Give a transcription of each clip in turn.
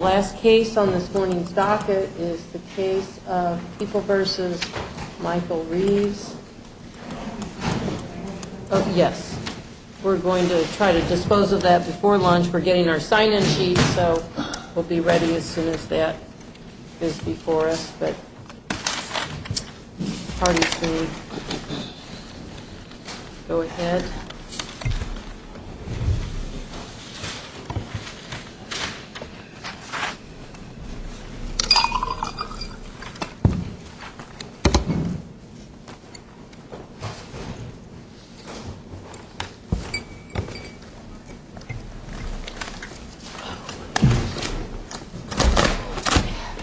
The last case on this morning's docket is the case of People v. Michael Reeves. We're going to try to dispose of that before lunch. We're getting our sign-in sheets, so we'll be ready as soon as that is before us. But parties may go ahead.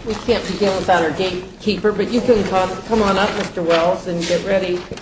We can't begin without our gatekeeper, but you can come on up, Mr. Wells, and get ready. All right. Thank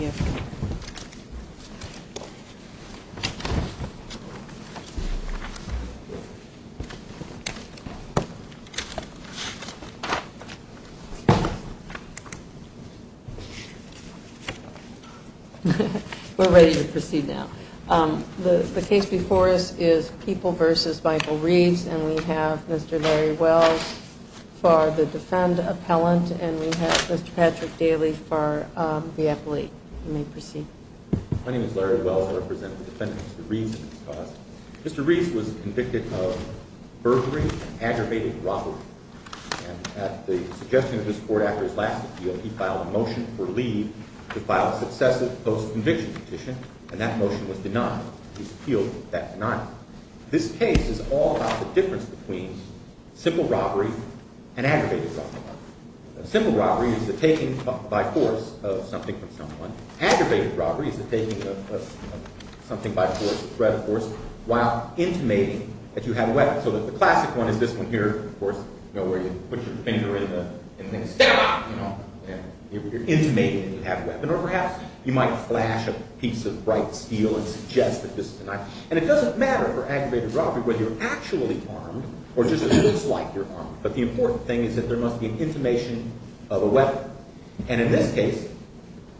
you. We're ready to proceed now. The case before us is People v. Michael Reeves, and we have Mr. Larry Wells for the defendant appellant, and we have Mr. Patrick Daly for the appellate. You may proceed. My name is Larry Wells. I represent the defendant, Mr. Reeves. Mr. Reeves was convicted of burglary and aggravated robbery. And at the suggestion of his court after his last appeal, he filed a motion for leave to file a successive post-conviction petition, and that motion was denied. He's appealed that denial. This case is all about the difference between simple robbery and aggravated robbery. Simple robbery is the taking by force of something from someone. Aggravated robbery is the taking of something by force, a threat of force, while intimating that you have a weapon. So the classic one is this one here, of course, where you put your finger in the thing and say, ah! You're intimating that you have a weapon. Or perhaps you might flash a piece of bright steel and suggest that this is a knife. And it doesn't matter for aggravated robbery whether you're actually armed or just it looks like you're armed. But the important thing is that there must be an intimation of a weapon. And in this case,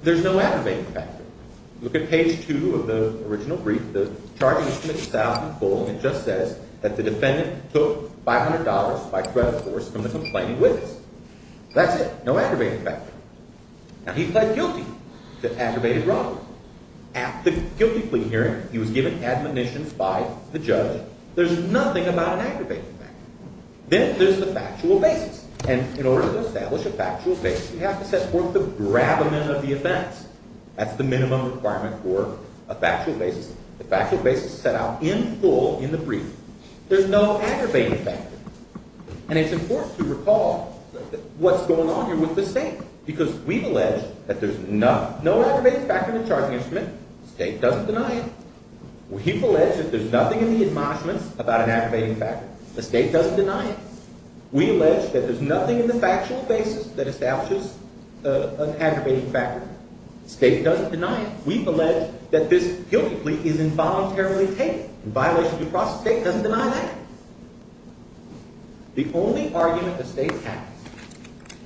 there's no aggravating factor. Look at page 2 of the original brief. The charge is from itself in full. It just says that the defendant took $500 by threat of force from the complaining witness. That's it. No aggravating factor. Now, he pled guilty to aggravated robbery. At the guilty plea hearing, he was given admonitions by the judge. There's nothing about an aggravating factor. Then there's the factual basis. And in order to establish a factual basis, you have to set forth the grabment of the offense. That's the minimum requirement for a factual basis. The factual basis is set out in full in the brief. There's no aggravating factor. And it's important to recall what's going on here with the state. Because we've alleged that there's no aggravating factor in the charging instrument. The state doesn't deny it. We've alleged that there's nothing in the admonishments about an aggravating factor. The state doesn't deny it. We allege that there's nothing in the factual basis that establishes an aggravating factor. The state doesn't deny it. We've alleged that this guilty plea is involuntarily taken in violation of due process. The state doesn't deny that. The only argument the state has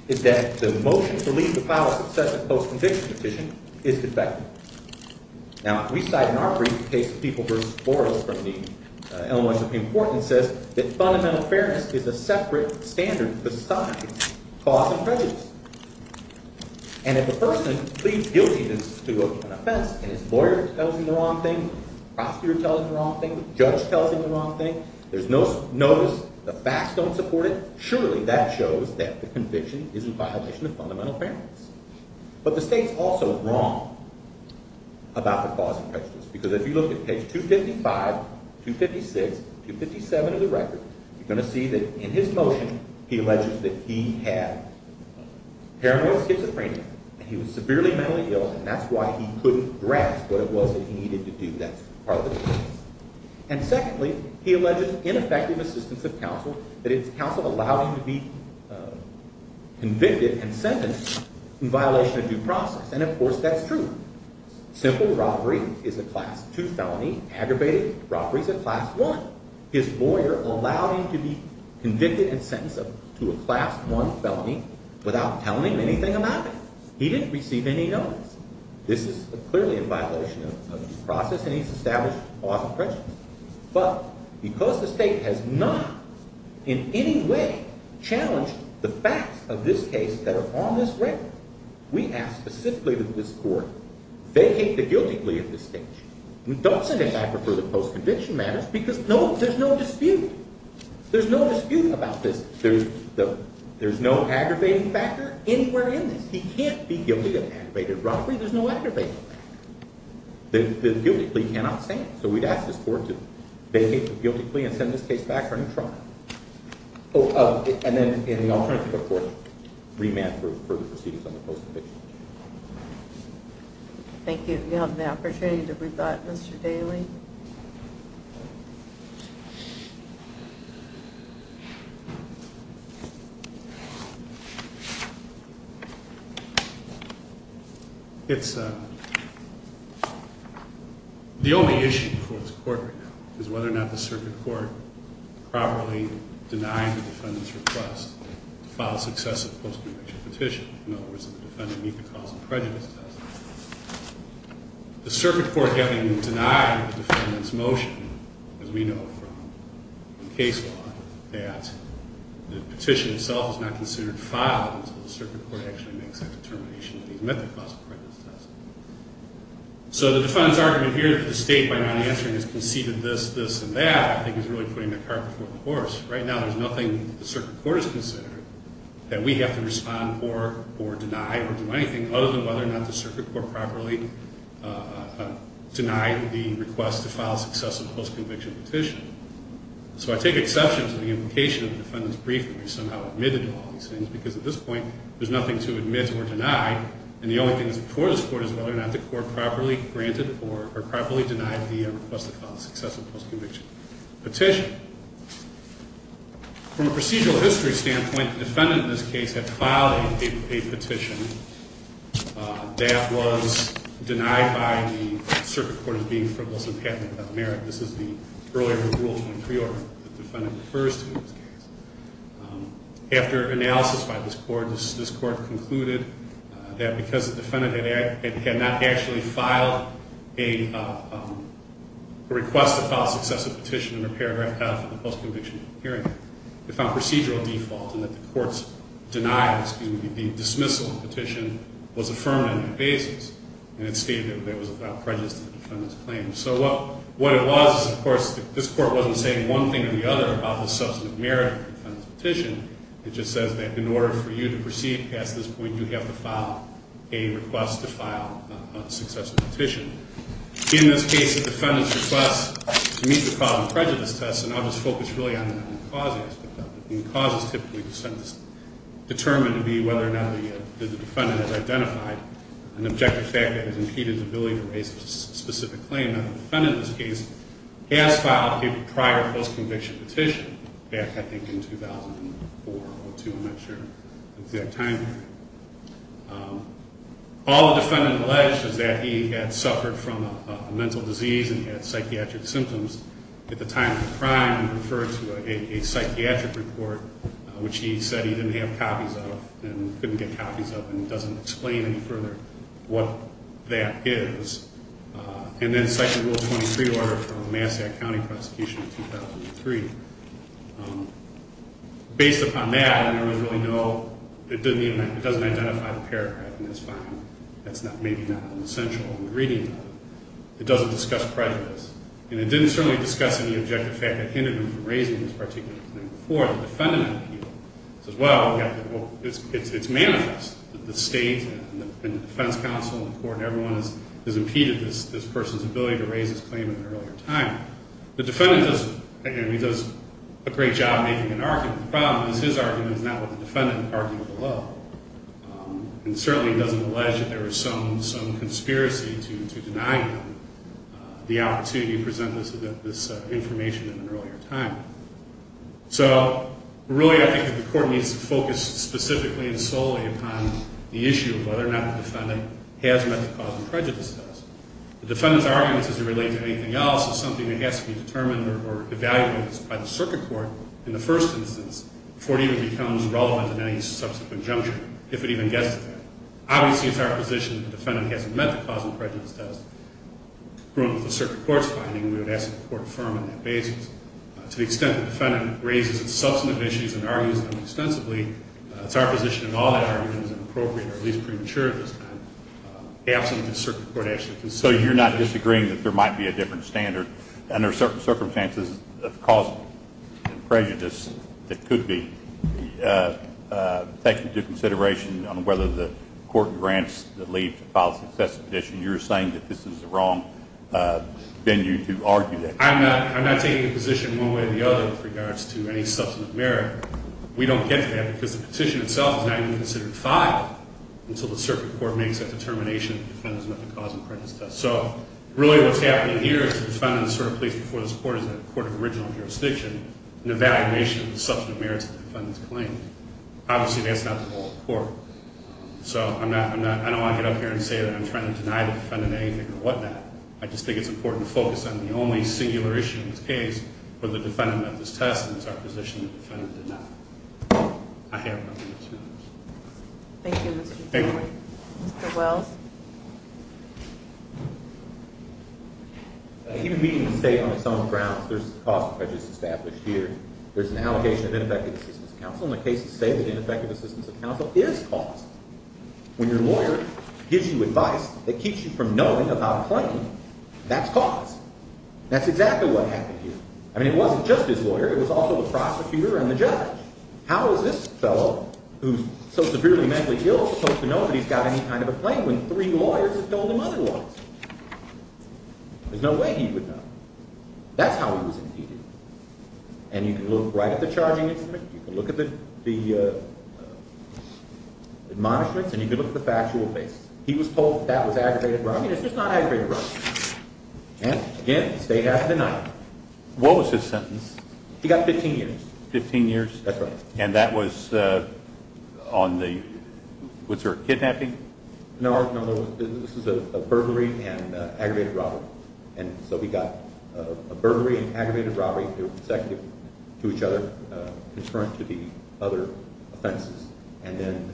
is that the motion to leave the file of subsequent post-conviction petition is defective. Now, if we cite in our brief the case of People v. Forrest from the Illinois Supreme Court, it says that fundamental fairness is a separate standard besides cause and prejudice. And if a person pleads guilty to an offense and his lawyer tells him the wrong thing, prosecutor tells him the wrong thing, judge tells him the wrong thing, there's no notice, the facts don't support it, surely that shows that the conviction is in violation of fundamental fairness. But the state's also wrong about the cause and prejudice. Because if you look at page 255, 256, 257 of the record, you're going to see that in his motion he alleges that he had paranoid schizophrenia and he was severely mentally ill and that's why he couldn't grasp what it was that he needed to do that part of the case. And secondly, he alleges ineffective assistance of counsel, that his counsel allowed him to be convicted and sentenced in violation of due process. And of course that's true. Simple robbery is a class 2 felony, aggravated robbery is a class 1. His lawyer allowed him to be convicted and sentenced to a class 1 felony without telling him anything about it. He didn't receive any notice. This is clearly in violation of due process and he's established cause and prejudice. But because the state has not in any way challenged the facts of this case that are on this record, we ask specifically that this court vacate the guilty plea at this stage. Don't send him back for the post-conviction matters because there's no dispute. There's no dispute about this. There's no aggravating factor anywhere in this. He can't be guilty of aggravated robbery. There's no aggravating factor. The guilty plea cannot stand. So we'd ask this court to vacate the guilty plea and send this case back running trial. And then in the alternative, of course, remand for further proceedings on the post-conviction. Thank you. Do you have an opportunity to rebut, Mr. Daly? It's the only issue before this court right now is whether or not the circuit court properly denied the defendant's request to file successive post-conviction petitions. In other words, the defendant meet the cause and prejudice test. The circuit court having denied the defendant's motion, as we know from case law, that the petition itself is not considered filed until the circuit court actually makes that determination that he's met the cause of prejudice test. So the defendant's argument here that the state, by not answering, has conceded this, this, and that, I think is really putting the cart before the horse. Right now, there's nothing the circuit court has considered that we have to respond for or deny or do anything, other than whether or not the circuit court properly denied the request to file a successive post-conviction petition. So I take exception to the implication of the defendant's brief that we somehow admitted to all these things, because at this point, there's nothing to admit or deny. And the only thing that's before this court is whether or not the court properly granted or properly denied the request to file a successive post-conviction petition. From a procedural history standpoint, the defendant in this case had filed a petition that was denied by the circuit court as being frivolous and patently without merit. This is the earlier Rule 23 order that the defendant refers to in this case. After analysis by this court, this court concluded that because the defendant had not actually filed a request to file a successive petition under paragraph F of the post-conviction hearing, it found procedural default in that the court's denial, excuse me, the dismissal of the petition was affirmed on that basis. And it stated that it was without prejudice to the defendant's claim. And so what it was, of course, this court wasn't saying one thing or the other about the substantive merit of the defendant's petition. It just says that in order for you to proceed past this point, you have to file a request to file a successive petition. In this case, the defendant's request to meet the cause of prejudice test, and I'll just focus really on the main causes. The main cause is typically determined to be whether or not the defendant has identified an objective fact that has impeded the ability to raise a specific claim. And the defendant in this case has filed a prior post-conviction petition back, I think, in 2004 or 2. I'm not sure the exact time period. All the defendant alleged is that he had suffered from a mental disease and he had psychiatric symptoms. At the time of the crime, he referred to a psychiatric report, which he said he didn't have copies of and couldn't get copies of and doesn't explain any further what that is. And then cite the Rule 23 order from the Massach County Prosecution in 2003. Based upon that, I don't really know. It doesn't identify the paragraph in this file. That's maybe not essential in the reading. It doesn't discuss prejudice. And it didn't certainly discuss any objective fact that hindered him from raising this particular claim before the defendant appealed. It says, well, it's manifest that the state and the defense counsel and the court and everyone has impeded this person's ability to raise this claim in an earlier time. The defendant does a great job making an argument. The problem is his argument is not what the defendant argued below. And certainly he doesn't allege that there was some conspiracy to deny him the opportunity to present this information in an earlier time. So really, I think the court needs to focus specifically and solely upon the issue of whether or not the defendant has met the cause of prejudice test. The defendant's argument doesn't relate to anything else. It's something that has to be determined or evaluated by the circuit court in the first instance before it even becomes relevant in any subsequent juncture, if it even gets to that. Obviously, it's our position that the defendant hasn't met the cause of prejudice test. We would ask that the court affirm on that basis. To the extent that the defendant raises its substantive issues and argues them extensively, it's our position that all that argument is inappropriate or at least premature at this time. Absolutely, the circuit court has to consider. So you're not disagreeing that there might be a different standard under certain circumstances of cause and prejudice that could be. Thank you for your consideration on whether the court grants the lead to file a successive petition. You're saying that this is the wrong venue to argue that. I'm not taking a position one way or the other with regards to any substantive merit. We don't get to that because the petition itself is not even considered filed until the circuit court makes that determination that the defendant has met the cause of prejudice test. So really what's happening here is the defendant is sort of placed before this court as a court of original jurisdiction in evaluation of the substantive merits of the defendant's claim. Obviously, that's not the whole court. So I'm not – I don't want to get up here and say that I'm trying to deny the defendant anything or whatnot. I just think it's important to focus on the only singular issue in this case where the defendant met this test, and it's our position that the defendant did not. I have nothing to add. Thank you. Thank you. Mr. Wells. Even meeting the state on its own grounds, there's a cause of prejudice established here. There's an allocation of ineffective assistance of counsel, and the cases state that ineffective assistance of counsel is caused. When your lawyer gives you advice that keeps you from knowing about a claim, that's caused. That's exactly what happened here. I mean it wasn't just his lawyer. It was also the prosecutor and the judge. How is this fellow, who's so severely mentally ill, supposed to know that he's got any kind of a claim when three lawyers have told him other lies? There's no way he would know. That's how he was indeed. And you can look right at the charging instrument. You can look at the admonishments, and you can look at the factual basis. He was told that that was aggravated robbery, and it's just not aggravated robbery. And, again, the state hasn't denied it. What was his sentence? He got 15 years. Fifteen years? That's right. And that was on the – was there a kidnapping? No, this was a burglary and aggravated robbery. And so we got a burglary and aggravated robbery. They were consecutive to each other, concurrent to the other offenses. And then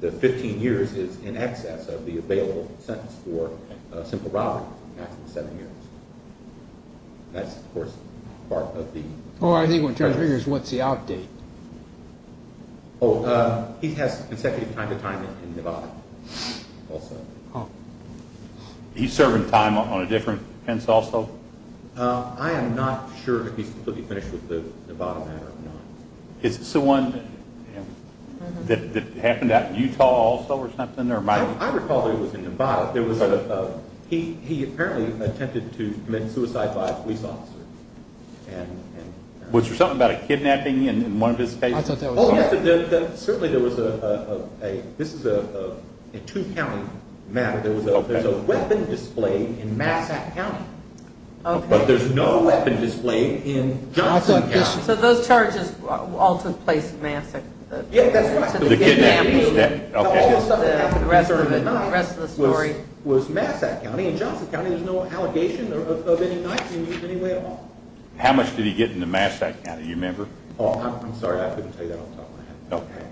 the 15 years is in excess of the available sentence for a simple robbery, maximum seven years. That's, of course, part of the… Oh, I think when it comes to years, what's the outdate? Oh, he has consecutive time-to-time in Nevada also. He's serving time on a different defense also? I am not sure that he's completely finished with the Nevada matter or not. Is this the one that happened at Utah also or something? I recall that it was in Nevada. He apparently attempted to commit suicide by a police officer. Was there something about a kidnapping in one of his cases? I thought that was part of it. Certainly there was a – this is a two-county matter. There was a weapon displayed in Massac County, but there's no weapon displayed in Johnson County. So those charges all took place in Massac? Yeah, that's right. All the stuff that happened in the rest of the story was Massac County. In Johnson County, there's no allegation of any knife use in any way at all. How much did he get in the Massac County? Do you remember? I'm sorry, I couldn't tell you that off the top of my head. Okay.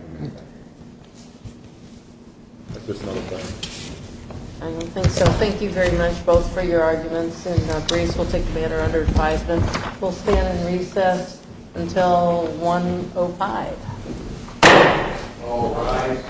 I don't think so. Thank you very much both for your arguments. And Grace will take the matter under advisement. We'll stand in recess until 1.05. All rise.